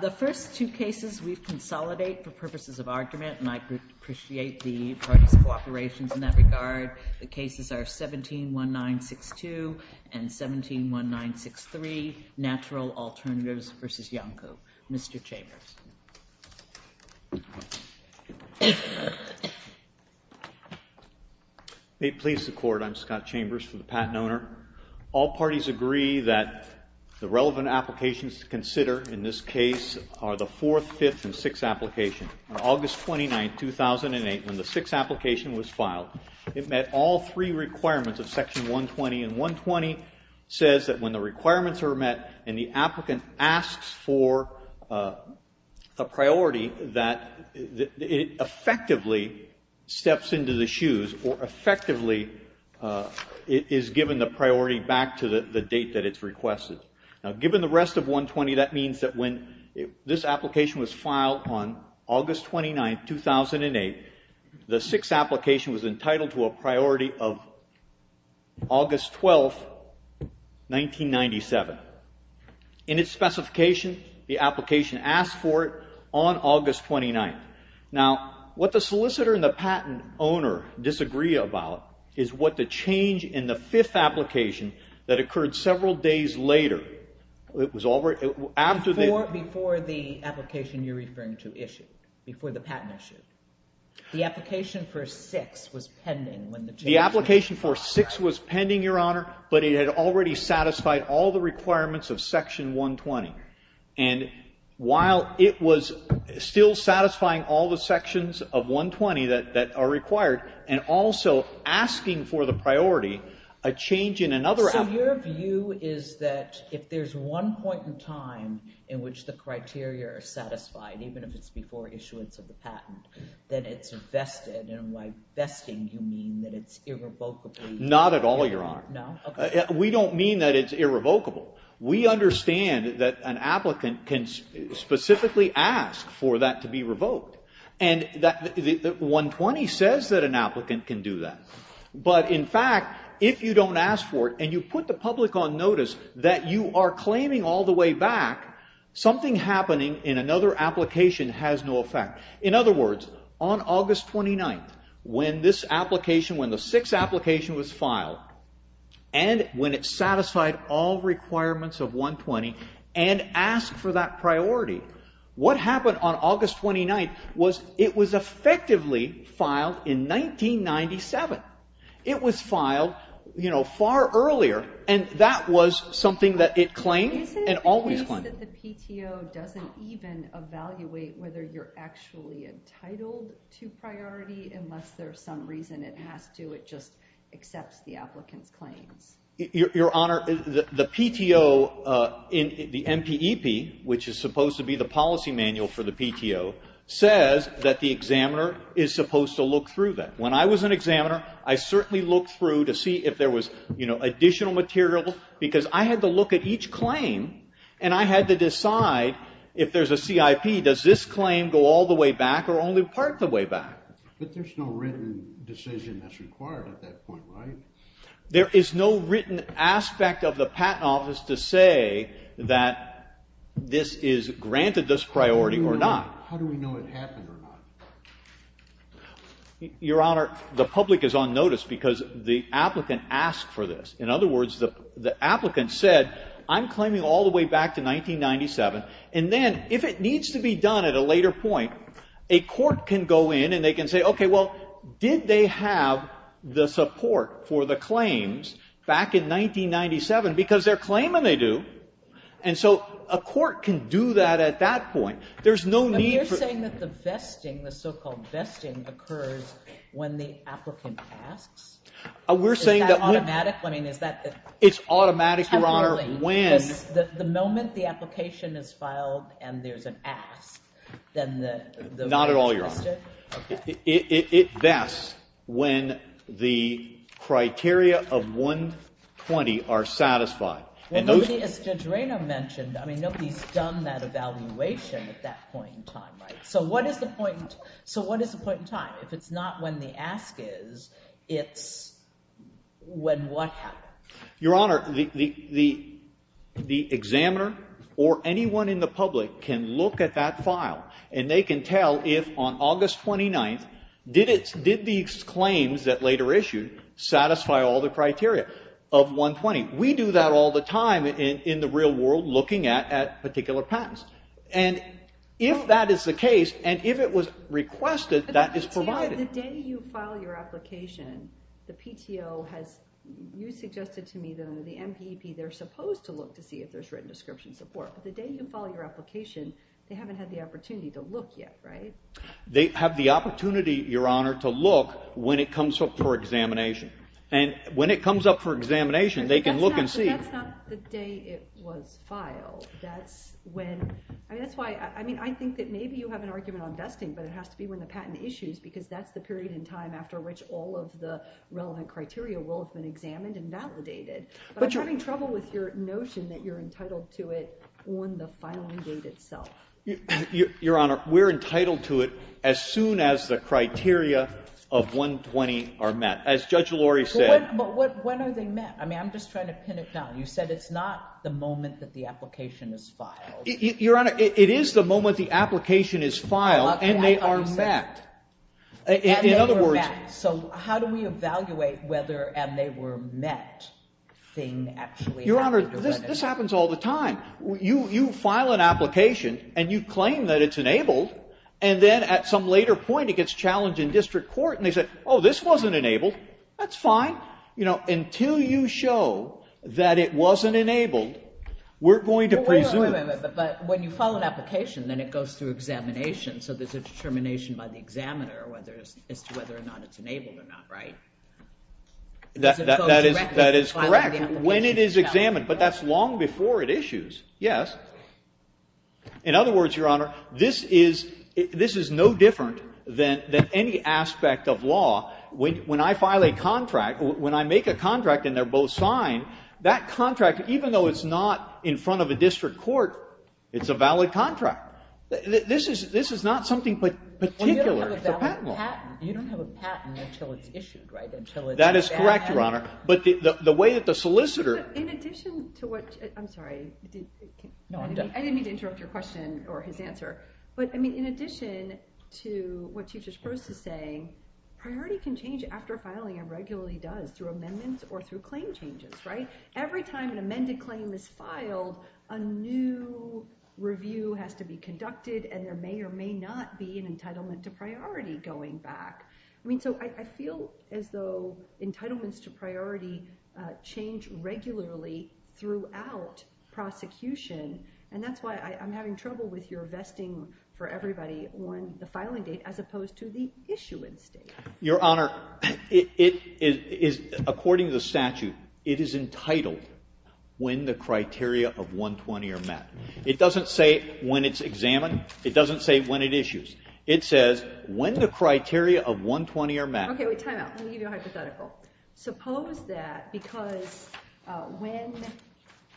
The first two cases we've consolidated for purposes of argument, and I appreciate the parties' cooperation in that regard. The cases are 17-1962 and 17-1963, Natural Alternatives v. Iancu. Mr. Chambers. May it please the Court, I'm Scott Chambers for the Patent Owner. All parties agree that the relevant applications to consider in this case are the 4th, 5th, and 6th applications. On August 29, 2008, when the 6th application was filed, it met all three requirements of Section 120. And 120 says that when the requirements are met and the applicant asks for a priority, that it effectively steps into the shoes or effectively is given the priority back to the date that it's requested. Now, given the rest of 120, that means that when this application was filed on August 29, 2008, the 6th application was entitled to a priority of August 12, 1997. In its specification, the application asked for it on August 29. Now, what the solicitor and the patent owner disagree about is what the change in the 5th application that occurred several days later, it was already, after the... Before the application you're referring to issued, before the patent issued. The application for 6th was pending when the... The application for 6th was pending, Your Honor, but it had already satisfied all the requirements of Section 120. And while it was still satisfying all the sections of 120 that are required, and also asking for the priority, a change in another... So your view is that if there's one point in time in which the criteria are satisfied, even if it's before issuance of the patent, then it's vested. And by vesting, you mean that it's irrevocably... Not at all, Your Honor. No? Okay. We don't mean that it's irrevocable. We understand that an applicant can specifically ask for that to be revoked. And 120 says that an applicant can do that. But in fact, if you don't ask for it and you put the public on notice that you are claiming all the way back something happening in another application has no effect. In other words, on August 29th, when this application, when the 6th application was filed, and when it satisfied all requirements of 120 and asked for that priority, what happened on August 29th was it was effectively filed in 1997. It was filed, you know, far earlier, and that was something that it claimed and always claimed. Do you find that the PTO doesn't even evaluate whether you're actually entitled to priority unless there's some reason it has to, it just accepts the applicant's claims? Your Honor, the PTO, the MPEP, which is supposed to be the policy manual for the PTO, says that the examiner is supposed to look through that. When I was an examiner, I certainly looked through to see if there was additional material because I had to look at each claim and I had to decide if there's a CIP, does this claim go all the way back or only part the way back? But there's no written decision that's required at that point, right? There is no written aspect of the patent office to say that this is granted this priority or not. How do we know it happened or not? Your Honor, the public is on notice because the applicant asked for this. In other words, the applicant said I'm claiming all the way back to 1997, and then if it needs to be done at a later point, a court can go in and they can say, okay, well, did they have the support for the claims back in 1997? Because they're claiming they do. And so a court can do that at that point. There's no need for ---- But you're saying that the vesting, the so-called vesting, occurs when the applicant asks? We're saying that we ---- It's automatic? I mean, is that ---- It's automatic, Your Honor, when ---- The moment the application is filed and there's an ask, then the ---- Not at all, Your Honor. Okay. It vests when the criteria of 120 are satisfied. And those ---- As Judge Rayner mentioned, I mean, nobody's done that evaluation at that point in time, right? So what is the point in time? If it's not when the ask is, it's when what happens? Your Honor, the examiner or anyone in the public can look at that file, and they can tell if on August 29th did these claims that later issued satisfy all the criteria of 120. We do that all the time in the real world looking at particular patents. And if that is the case, and if it was requested, that is provided. The day you file your application, the PTO has ---- You suggested to me that under the MPEP they're supposed to look to see if there's written description support. But the day you file your application, they haven't had the opportunity to look yet, right? They have the opportunity, Your Honor, to look when it comes up for examination. And when it comes up for examination, they can look and see. But that's not the day it was filed. That's when ---- I mean, I think that maybe you have an argument on vesting, but it has to be when the patent issues because that's the period in time after which all of the relevant criteria will have been examined and validated. But I'm having trouble with your notion that you're entitled to it on the filing date itself. Your Honor, we're entitled to it as soon as the criteria of 120 are met. As Judge Lori said ---- But when are they met? I mean, I'm just trying to pin it down. You said it's not the moment that the application is filed. Your Honor, it is the moment the application is filed and they are met. Okay. I understand. In other words ---- And they were met. So how do we evaluate whether and they were met thing actually happened or whether ---- Your Honor, this happens all the time. You file an application and you claim that it's enabled, and then at some later point it gets challenged in district court and they say, oh, this wasn't enabled. That's fine. You know, until you show that it wasn't enabled, we're going to presume ---- Wait a minute. But when you file an application, then it goes through examination, so there's a determination by the examiner as to whether or not it's enabled or not, right? That is correct when it is examined. But that's long before it issues. Yes. In other words, Your Honor, this is no different than any aspect of law. When I file a contract, when I make a contract and they're both signed, that contract, even though it's not in front of a district court, it's a valid contract. This is not something particular. It's a patent law. You don't have a patent until it's issued, right? That is correct, Your Honor. But the way that the solicitor ---- In addition to what ---- I'm sorry. No, I'm done. I didn't mean to interrupt your question or his answer. But, I mean, in addition to what Chief Disprose is saying, priority can change after filing and regularly does through amendments or through claim changes, right? Every time an amended claim is filed, a new review has to be conducted and there may or may not be an entitlement to priority going back. I mean, so I feel as though entitlements to priority change regularly throughout prosecution. And that's why I'm having trouble with your vesting for everybody on the filing date as opposed to the issuance date. Your Honor, it is, according to the statute, it is entitled when the criteria of 120 are met. It doesn't say when it's examined. It doesn't say when it issues. It says when the criteria of 120 are met. Okay, we time out. Let me give you a hypothetical. Suppose that because when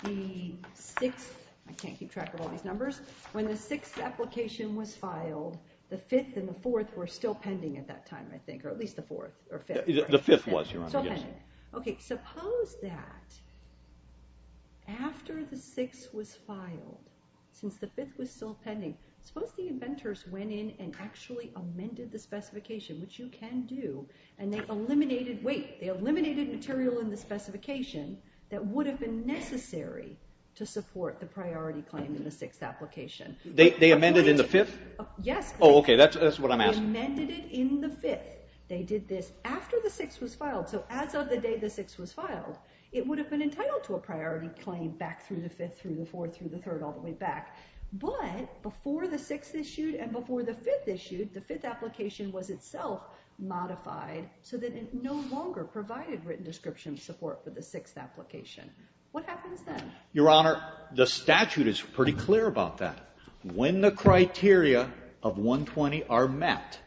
the 6th ---- I can't keep track of all these numbers. When the 6th application was filed, the 5th and the 4th were still pending at that time, I think, or at least the 4th or 5th. The 5th was, Your Honor. Okay, suppose that after the 6th was filed, since the 5th was still pending, suppose the inventors went in and actually amended the specification, which you can do, and they eliminated ---- wait, they eliminated material in the specification that would have been necessary to support the priority claim in the 6th application. They amended in the 5th? Yes. Oh, okay. That's what I'm asking. They amended it in the 5th. They did this after the 6th was filed. So as of the day the 6th was filed, it would have been entitled to a priority claim back through the 5th, through the 4th, through the 3rd, all the way back. But before the 6th issued and before the 5th issued, the 5th application was itself modified so that it no longer provided written description support for the 6th application. What happens then? Your Honor, the statute is pretty clear about that. When the criteria of 120 are met,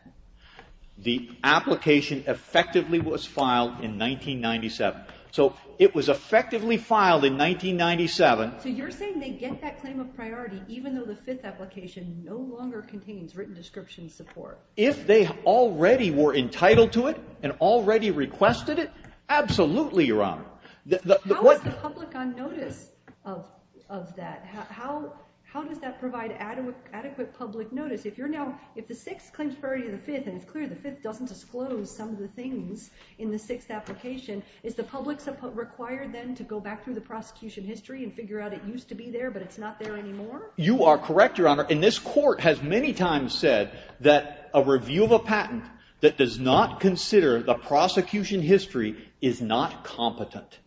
the application effectively was filed in 1997. So it was effectively filed in 1997. So you're saying they get that claim of priority even though the 5th application no longer contains written description support? If they already were entitled to it and already requested it, absolutely, Your Honor. How is the public on notice of that? How does that provide adequate public notice? If the 6th claims priority to the 5th and it's clear the 5th doesn't disclose some of the things in the 6th application, is the public required then to go back through the prosecution history and figure out it used to be there but it's not there anymore? You are correct, Your Honor. And this court has many times said that a review of a patent that does not consider the prosecution history is not competent.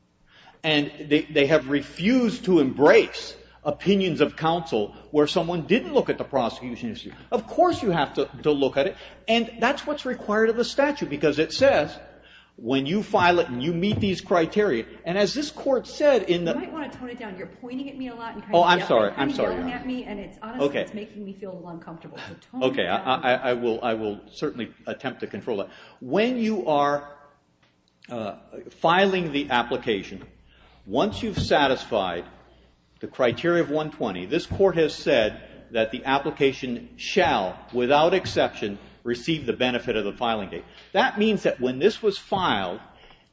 And they have refused to embrace opinions of counsel where someone didn't look at the prosecution history. Of course you have to look at it. And that's what's required of the statute because it says when you file it and you meet these criteria, and as this court said in the ---- You might want to tone it down. You're pointing at me a lot and kind of yelling at me and it's honestly making me feel a little uncomfortable. Okay. I will certainly attempt to control that. When you are filing the application, once you've satisfied the criteria of 120, this court has said that the application shall, without exception, receive the benefit of the filing date. That means that when this was filed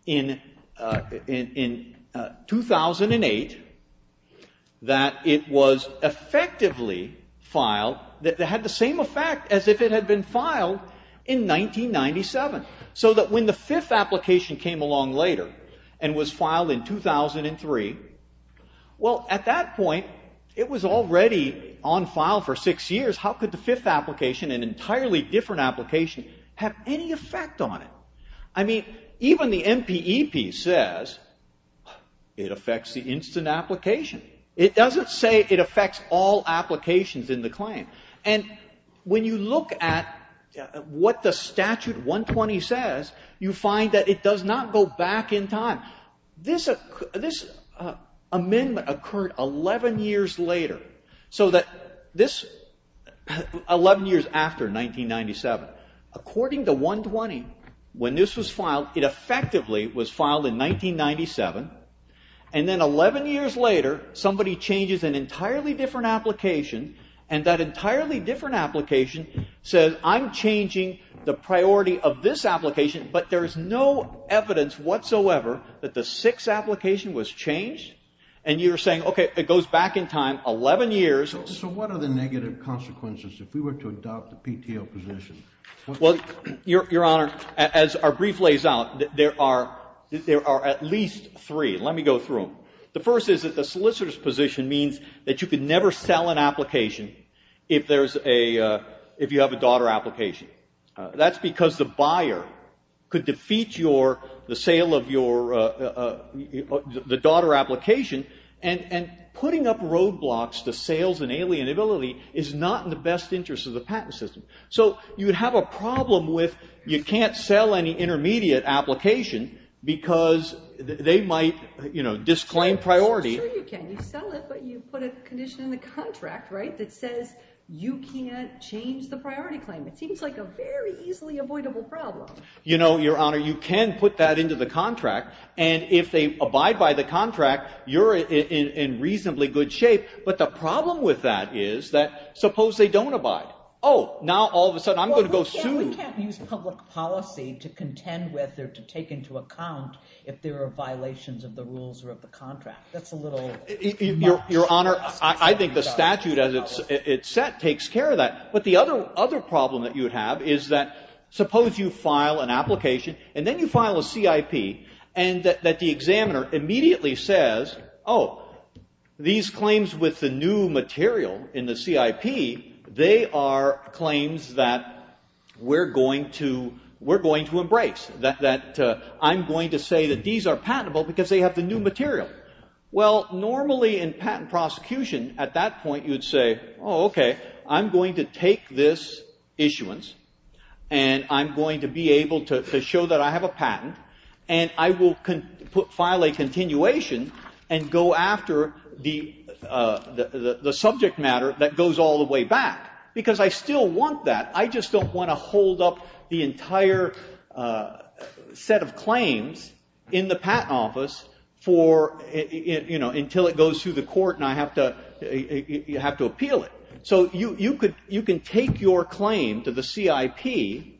in 2008, that it was effectively filed, that it had the same effect as if it had been filed in 1997. So that when the fifth application came along later and was filed in 2003, well, at that point, it was already on file for six years. How could the fifth application, an entirely different application, have any effect on it? I mean, even the MPEP says it affects the instant application. It doesn't say it affects all applications in the claim. And when you look at what the statute 120 says, you find that it does not go back in time. This amendment occurred 11 years later. So that this, 11 years after 1997, according to 120, when this was filed, it effectively was filed in 1997. And then 11 years later, somebody changes an entirely different application. And that entirely different application says, I'm changing the priority of this application. But there is no evidence whatsoever that the sixth application was changed. And you're saying, OK, it goes back in time 11 years. So what are the negative consequences if we were to adopt the PTO position? Well, Your Honor, as our brief lays out, there are at least three. Let me go through them. The first is that the solicitor's position means that you could never sell an application if you have a daughter application. That's because the buyer could defeat the sale of the daughter application. And putting up roadblocks to sales and alienability is not in the best interest of the patent system. So you would have a problem with you can't sell any intermediate application because they might, you know, disclaim priority. You can sell it, but you put a condition in the contract, right, that says you can't change the priority claim. It seems like a very easily avoidable problem. You know, Your Honor, you can put that into the contract. And if they abide by the contract, you're in reasonably good shape. But the problem with that is that suppose they don't abide. Oh, now all of a sudden I'm going to go sue. Well, we can't use public policy to contend with or to take into account if there are violations of the rules or of the contract. That's a little harsh. Your Honor, I think the statute as it's set takes care of that. But the other problem that you would have is that suppose you file an application, and then you file a CIP, and that the examiner immediately says, oh, these claims with the new material in the CIP, they are claims that we're going to embrace, that I'm going to say that these are patentable because they have the new material. Well, normally in patent prosecution at that point you would say, oh, okay, I'm going to take this issuance, and I'm going to be able to show that I have a patent, and I will file a continuation and go after the subject matter that goes all the way back. Because I still want that. I just don't want to hold up the entire set of claims in the patent office for, you know, until it goes through the court and I have to appeal it. So you can take your claim to the CIP,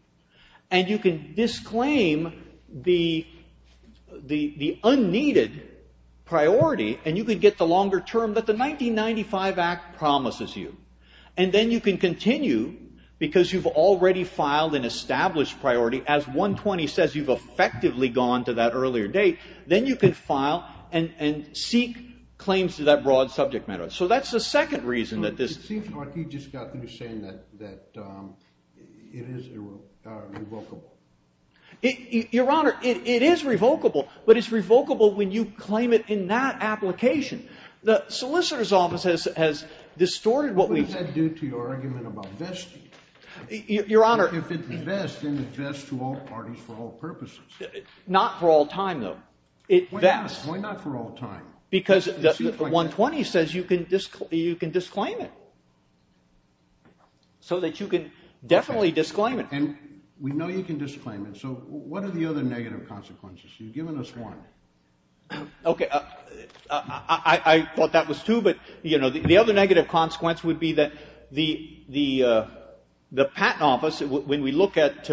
and you can disclaim the unneeded priority, and you can get the longer term that the 1995 Act promises you. And then you can continue because you've already filed an established priority as 120 says you've effectively gone to that earlier date. Then you can file and seek claims to that broad subject matter. It seems like you just got through saying that it is revocable. Your Honor, it is revocable, but it's revocable when you claim it in that application. The solicitor's office has distorted what we've said. What does that do to your argument about vesting? Your Honor. If it's a vest, then it vests to all parties for all purposes. Not for all time, though. Why not? Why not for all time? Because 120 says you can disclaim it so that you can definitely disclaim it. And we know you can disclaim it, so what are the other negative consequences? You've given us one. Okay. I thought that was two, but, you know, the other negative consequence would be that the patent office, when we look at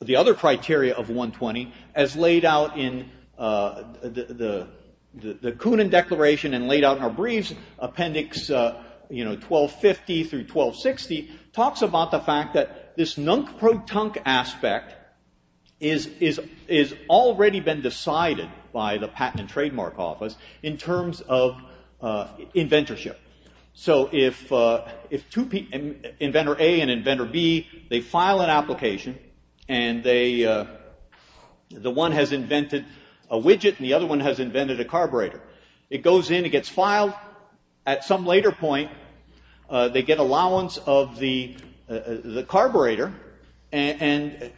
the other criteria of 120 as laid out in the Kunin Declaration and laid out in our briefs, you know, 1250 through 1260, talks about the fact that this nunk-pro-tunk aspect has already been decided by the Patent and Trademark Office in terms of inventorship. So if inventor A and inventor B, they file an application, and the one has invented a widget and the other one has invented a carburetor. It goes in, it gets filed. At some later point, they get allowance of the carburetor, and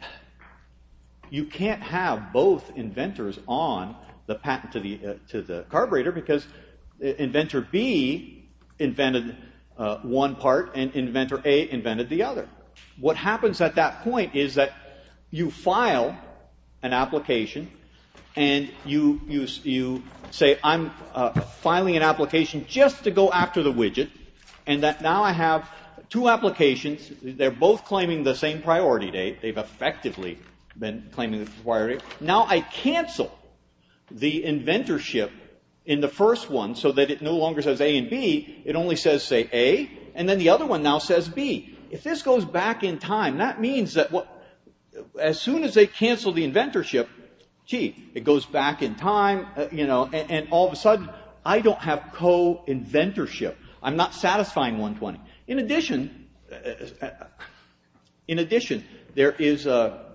you can't have both inventors on the patent to the carburetor because inventor B invented one part and inventor A invented the other. What happens at that point is that you file an application and you say, I'm filing an application just to go after the widget, and that now I have two applications. They're both claiming the same priority date. They've effectively been claiming the priority. Now I cancel the inventorship in the first one so that it no longer says A and B. It only says, say, A, and then the other one now says B. If this goes back in time, that means that as soon as they cancel the inventorship, gee, it goes back in time, and all of a sudden I don't have co-inventorship. I'm not satisfying 120. In addition, there is a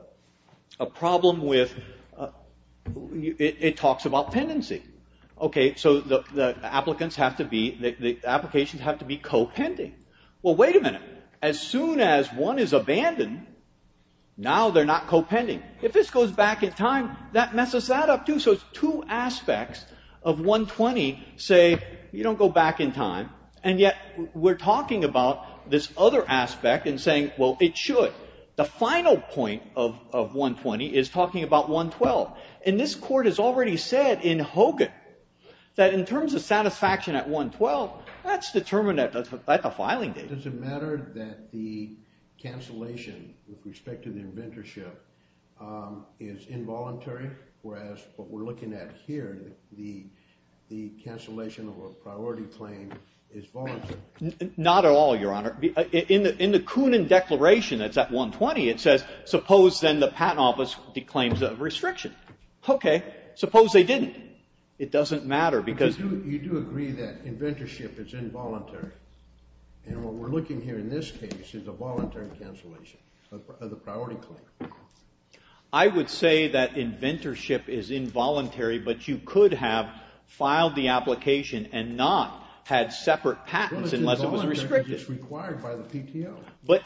problem with it talks about pendency. So the applications have to be co-pending. Well, wait a minute. As soon as one is abandoned, now they're not co-pending. If this goes back in time, that messes that up too. So it's two aspects of 120 say you don't go back in time, and yet we're talking about this other aspect and saying, well, it should. The final point of 120 is talking about 112, and this court has already said in Hogan that in terms of satisfaction at 112, well, that's determined at the filing date. Does it matter that the cancellation with respect to the inventorship is involuntary, whereas what we're looking at here, the cancellation of a priority claim is voluntary? Not at all, Your Honor. In the Kunin Declaration that's at 120, it says, suppose then the patent office declaims a restriction. Okay, suppose they didn't. It doesn't matter because you do agree that inventorship is involuntary, and what we're looking here in this case is a voluntary cancellation of the priority claim. I would say that inventorship is involuntary, but you could have filed the application and not had separate patents unless it was restricted. Well, it's involuntary because it's required by the PTO. But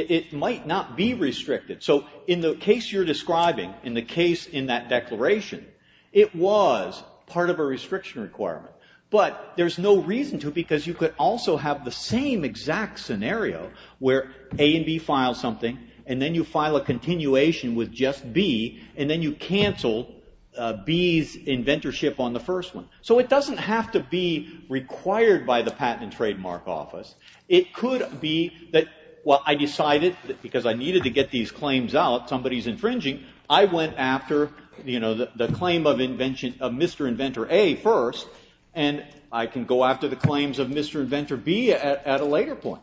it might not be restricted. So in the case you're describing, in the case in that declaration, it was part of a restriction requirement, but there's no reason to because you could also have the same exact scenario where A and B file something, and then you file a continuation with just B, and then you cancel B's inventorship on the first one. So it doesn't have to be required by the Patent and Trademark Office. It could be that, well, I decided that because I needed to get these claims out, somebody's infringing. I went after the claim of Mr. Inventor A first, and I can go after the claims of Mr. Inventor B at a later point.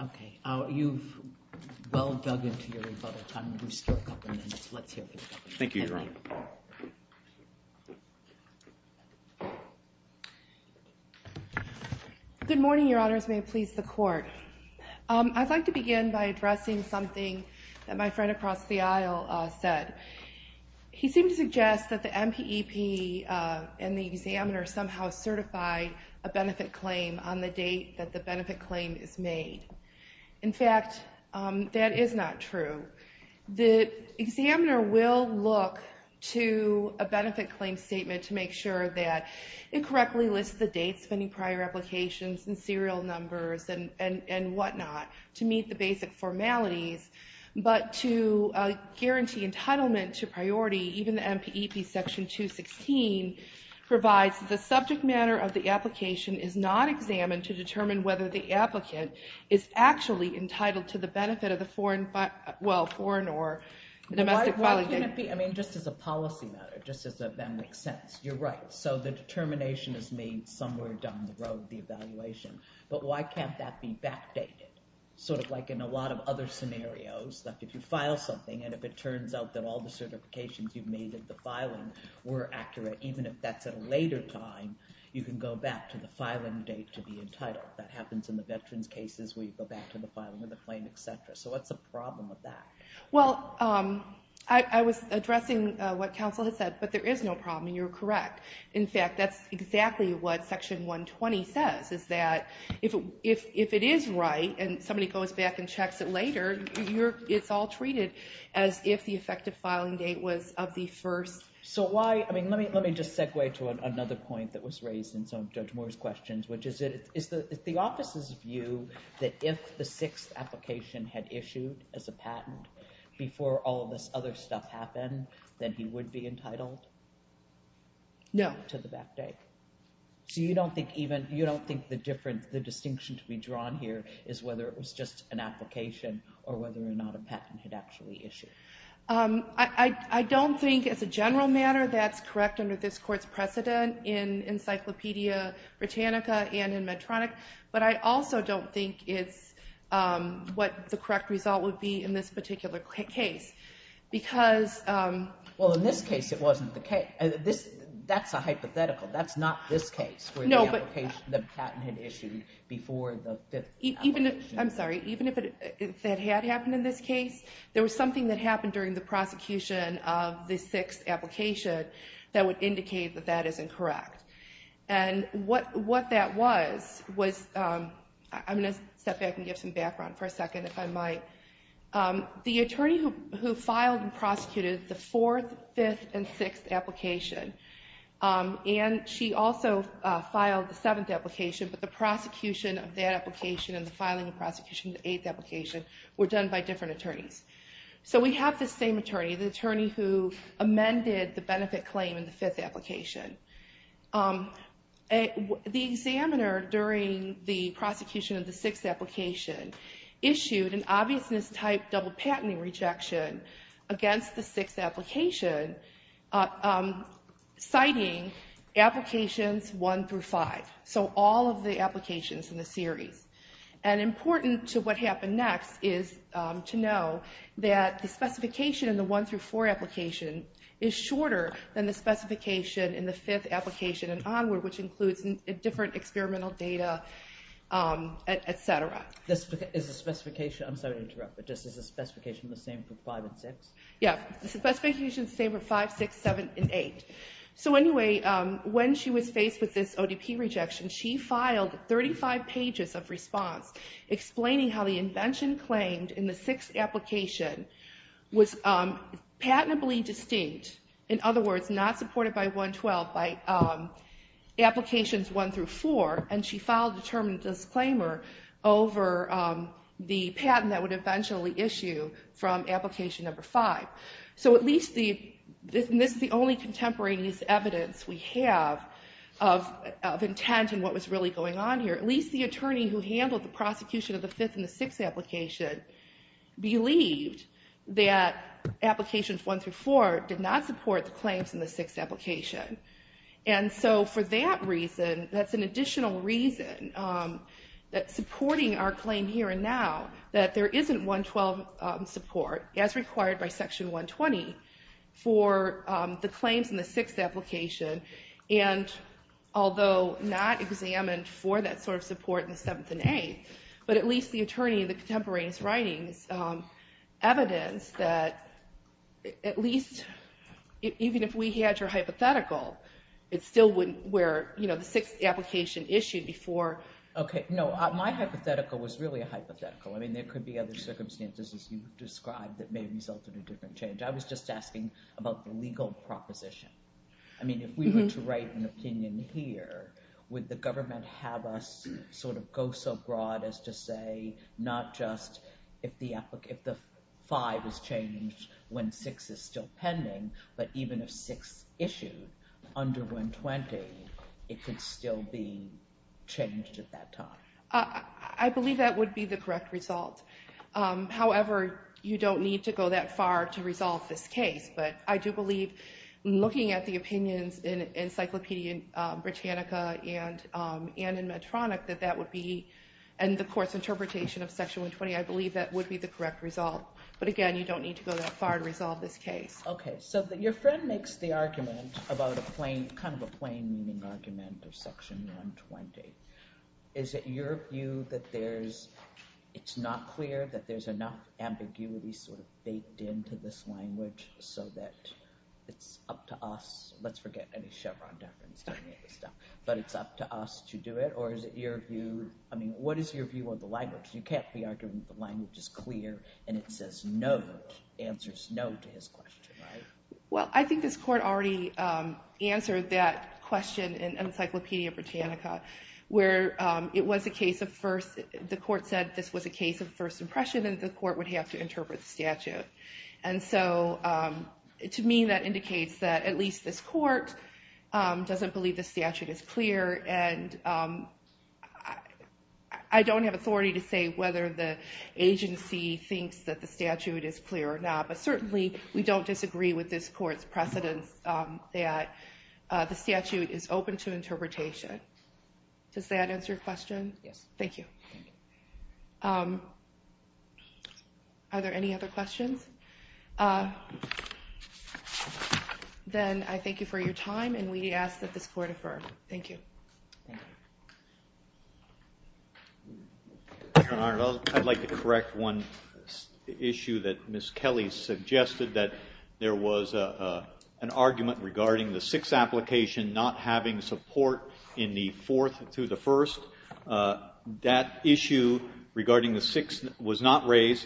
Okay. You've well dug into your rebuttal time. There's still a couple minutes. Let's hear from you. Thank you, Your Honor. Good morning, Your Honors. May it please the Court. I'd like to begin by addressing something that my friend across the aisle said. He seemed to suggest that the MPEP and the examiner somehow certify a benefit claim on the date that the benefit claim is made. In fact, that is not true. The examiner will look to a benefit claim statement to make sure that it meets the basic formalities. But to guarantee entitlement to priority, even the MPEP Section 216 provides that the subject matter of the application is not examined to determine whether the applicant is actually entitled to the benefit of the foreign or domestic filing date. Why can't it be just as a policy matter, just as that makes sense? You're right. So the determination is made somewhere down the road, the evaluation. But why can't that be backdated? Sort of like in a lot of other scenarios, like if you file something and if it turns out that all the certifications you've made at the filing were accurate, even if that's at a later time, you can go back to the filing date to be entitled. That happens in the veterans' cases where you go back to the filing of the claim, et cetera. So what's the problem with that? Well, I was addressing what counsel had said, but there is no problem. You're correct. In fact, that's exactly what Section 120 says, is that if it is right and somebody goes back and checks it later, it's all treated as if the effective filing date was of the first. So let me just segue to another point that was raised in some of Judge Moore's questions, which is the office's view that if the sixth application had issued as a patent before all of this other stuff happened, then he would be entitled to the back date. So you don't think the distinction to be drawn here is whether it was just an application or whether or not a patent had actually issued? I don't think as a general matter that's correct under this Court's precedent in Encyclopedia Britannica and in Medtronic, but I also don't think it's what the correct result would be in this Well, in this case it wasn't the case. That's a hypothetical. That's not this case where the patent had issued before the fifth application. I'm sorry. Even if that had happened in this case, there was something that happened during the prosecution of the sixth application that would indicate that that is incorrect. And what that was was – I'm going to step back and give some background for a second if I might. The attorney who filed and prosecuted the fourth, fifth, and sixth application and she also filed the seventh application, but the prosecution of that application and the filing and prosecution of the eighth application were done by different attorneys. So we have this same attorney, the attorney who amended the benefit claim in the fifth application. The examiner during the prosecution of the sixth application issued an obviousness type double patenting rejection against the sixth application, citing applications one through five. So all of the applications in the series. And important to what happened next is to know that the specification in the one through four application is shorter than the specification in the fifth application and onward, which includes different experimental data, et cetera. Is the specification – I'm sorry to interrupt, but is the specification the same for five and six? Yeah, the specification is the same for five, six, seven, and eight. So anyway, when she was faced with this ODP rejection, she filed 35 pages of response explaining how the invention claimed in the sixth application was patently distinct, in other words, not supported by 112, by applications one through four, and she filed a determined disclaimer over the patent that would eventually issue from application number five. So at least the – and this is the only contemporaneous evidence we have of intent and what was really going on here. At least the attorney who handled the prosecution of the fifth and the sixth application believed that applications one through four did not support the claims in the sixth application. And so for that reason, that's an additional reason that supporting our claim here and now, that there isn't 112 support, as required by section 120, for the claims in the sixth application. And although not examined for that sort of support in the seventh and eighth, but at least the attorney in the contemporaneous writings evidenced that at least even if we had your hypothetical, it still wouldn't – where, you know, the sixth application issued before. Okay. No, my hypothetical was really a hypothetical. I mean, there could be other circumstances, as you described, that may have resulted in a different change. I was just asking about the legal proposition. I mean, if we were to write an opinion here, would the government have us sort of go so broad as to say not just if the five is changed when six is still pending, but even if six issued under 120, it could still be changed at that time? I believe that would be the correct result. However, you don't need to go that far to resolve this case. But I do believe, looking at the opinions in Encyclopedia Britannica and in Medtronic, that that would be – and the court's interpretation of But, again, you don't need to go that far to resolve this case. Okay. So your friend makes the argument about a plain – kind of a plain meaning argument of Section 120. Is it your view that there's – it's not clear that there's enough ambiguity sort of baked into this language so that it's up to us – let's forget any Chevron deference or any of this stuff – but it's up to us to do it? Or is it your view – I mean, what is your view of the language? You can't be arguing that the language is clear and it says no – answers no to his question, right? Well, I think this court already answered that question in Encyclopedia Britannica where it was a case of first – the court said this was a case of first impression and the court would have to interpret the statute. And so to me that indicates that at least this court doesn't believe the statute is clear and I don't have authority to say whether the agency thinks that the statute is clear or not. But certainly we don't disagree with this court's precedence that the statute is open to interpretation. Does that answer your question? Yes. Thank you. Are there any other questions? Then I thank you for your time and we ask that this court affirm. Thank you. Your Honor, I'd like to correct one issue that Ms. Kelly suggested that there was an argument regarding the sixth application not having support in the fourth through the first. That issue regarding the sixth was not raised.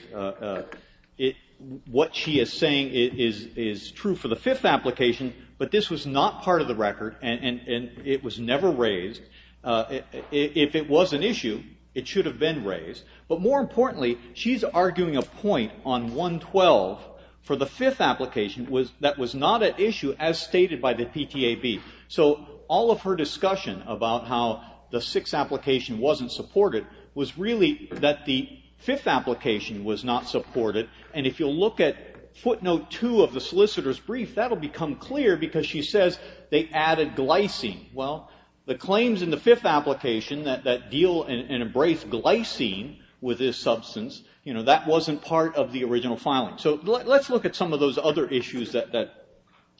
What she is saying is true for the fifth application, but this was not part of the record and it was never raised. If it was an issue, it should have been raised. But more importantly, she's arguing a point on 112 for the fifth application that was not an issue as stated by the PTAB. So all of her discussion about how the sixth application wasn't supported was really that the fifth application was not supported. And if you'll look at footnote two of the solicitor's brief, that will become clear because she says they added glycine. Well, the claims in the fifth application that deal and embrace glycine with this substance, you know, that wasn't part of the original filing. So let's look at some of those other issues that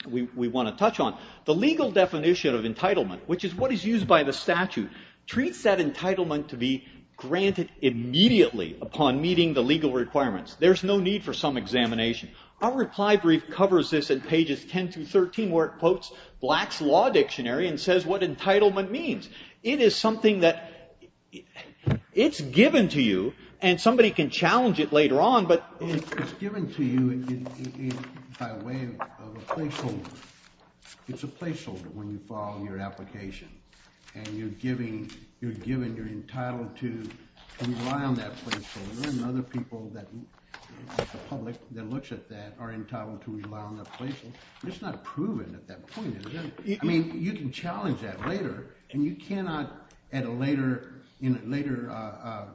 we want to touch on. The legal definition of entitlement, which is what is used by the statute, treats that entitlement to be granted immediately upon meeting the legal requirements. There's no need for some examination. Our reply brief covers this in pages 10 through 13 where it quotes Black's Law Dictionary and says what entitlement means. It is something that it's given to you and somebody can challenge it later on, but it's given to you by way of a placeholder. It's a placeholder when you file your application and you're given, you're entitled to rely on that placeholder and other people that the public that looks at that are entitled to rely on that placeholder. It's not proven at that point. I mean, you can challenge that later and you cannot at a later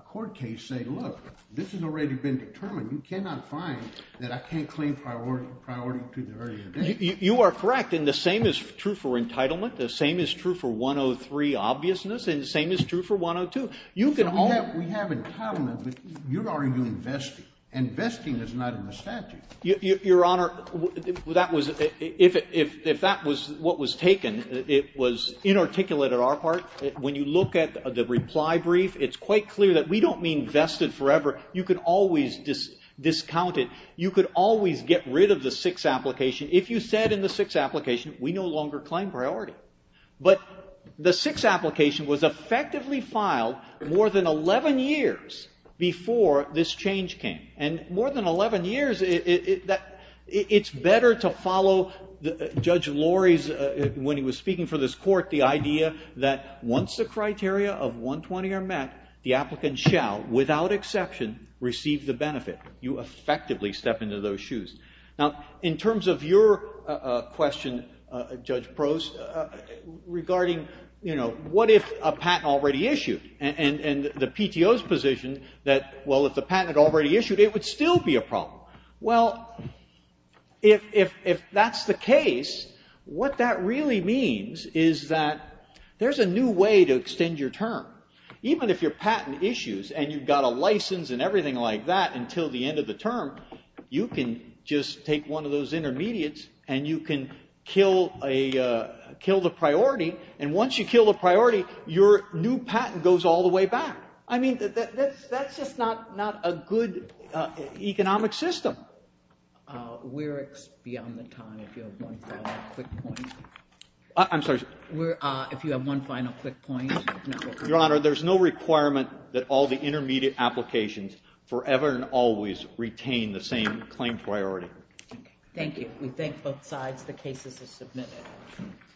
court case say, look, this has already been determined. You cannot find that I can't claim priority to the very end. You are correct. And the same is true for entitlement. The same is true for 103 obviousness. And the same is true for 102. You can only We have entitlement, but you're already doing vesting. And vesting is not in the statute. Your Honor, that was, if that was what was taken, it was inarticulate on our part. When you look at the reply brief, it's quite clear that we don't mean vested forever. You could always discount it. You could always get rid of the 6th application. If you said in the 6th application, we no longer claim priority. But the 6th application was effectively filed more than 11 years before this change came. And more than 11 years, it's better to follow Judge Lori's, when he was speaking for this court, the idea that once the criteria of 120 are met, the applicant shall, without exception, receive the benefit. You effectively step into those shoes. Now, in terms of your question, Judge Prose, regarding, you know, what if a patent already issued? And the PTO's position that, well, if the patent had already issued, it would still be a problem. Well, if that's the case, what that really means is that there's a new way to extend your term. Even if your patent issues and you've got a license and everything like that until the end of the term, you can just take one of those intermediates and you can kill the priority. And once you kill the priority, your new patent goes all the way back. I mean, that's just not a good economic system. We're beyond the time if you have one final quick point. I'm sorry. If you have one final quick point. Your Honor, there's no requirement that all the intermediate applications forever and always retain the same claim priority. Thank you. We thank both sides. The case is submitted.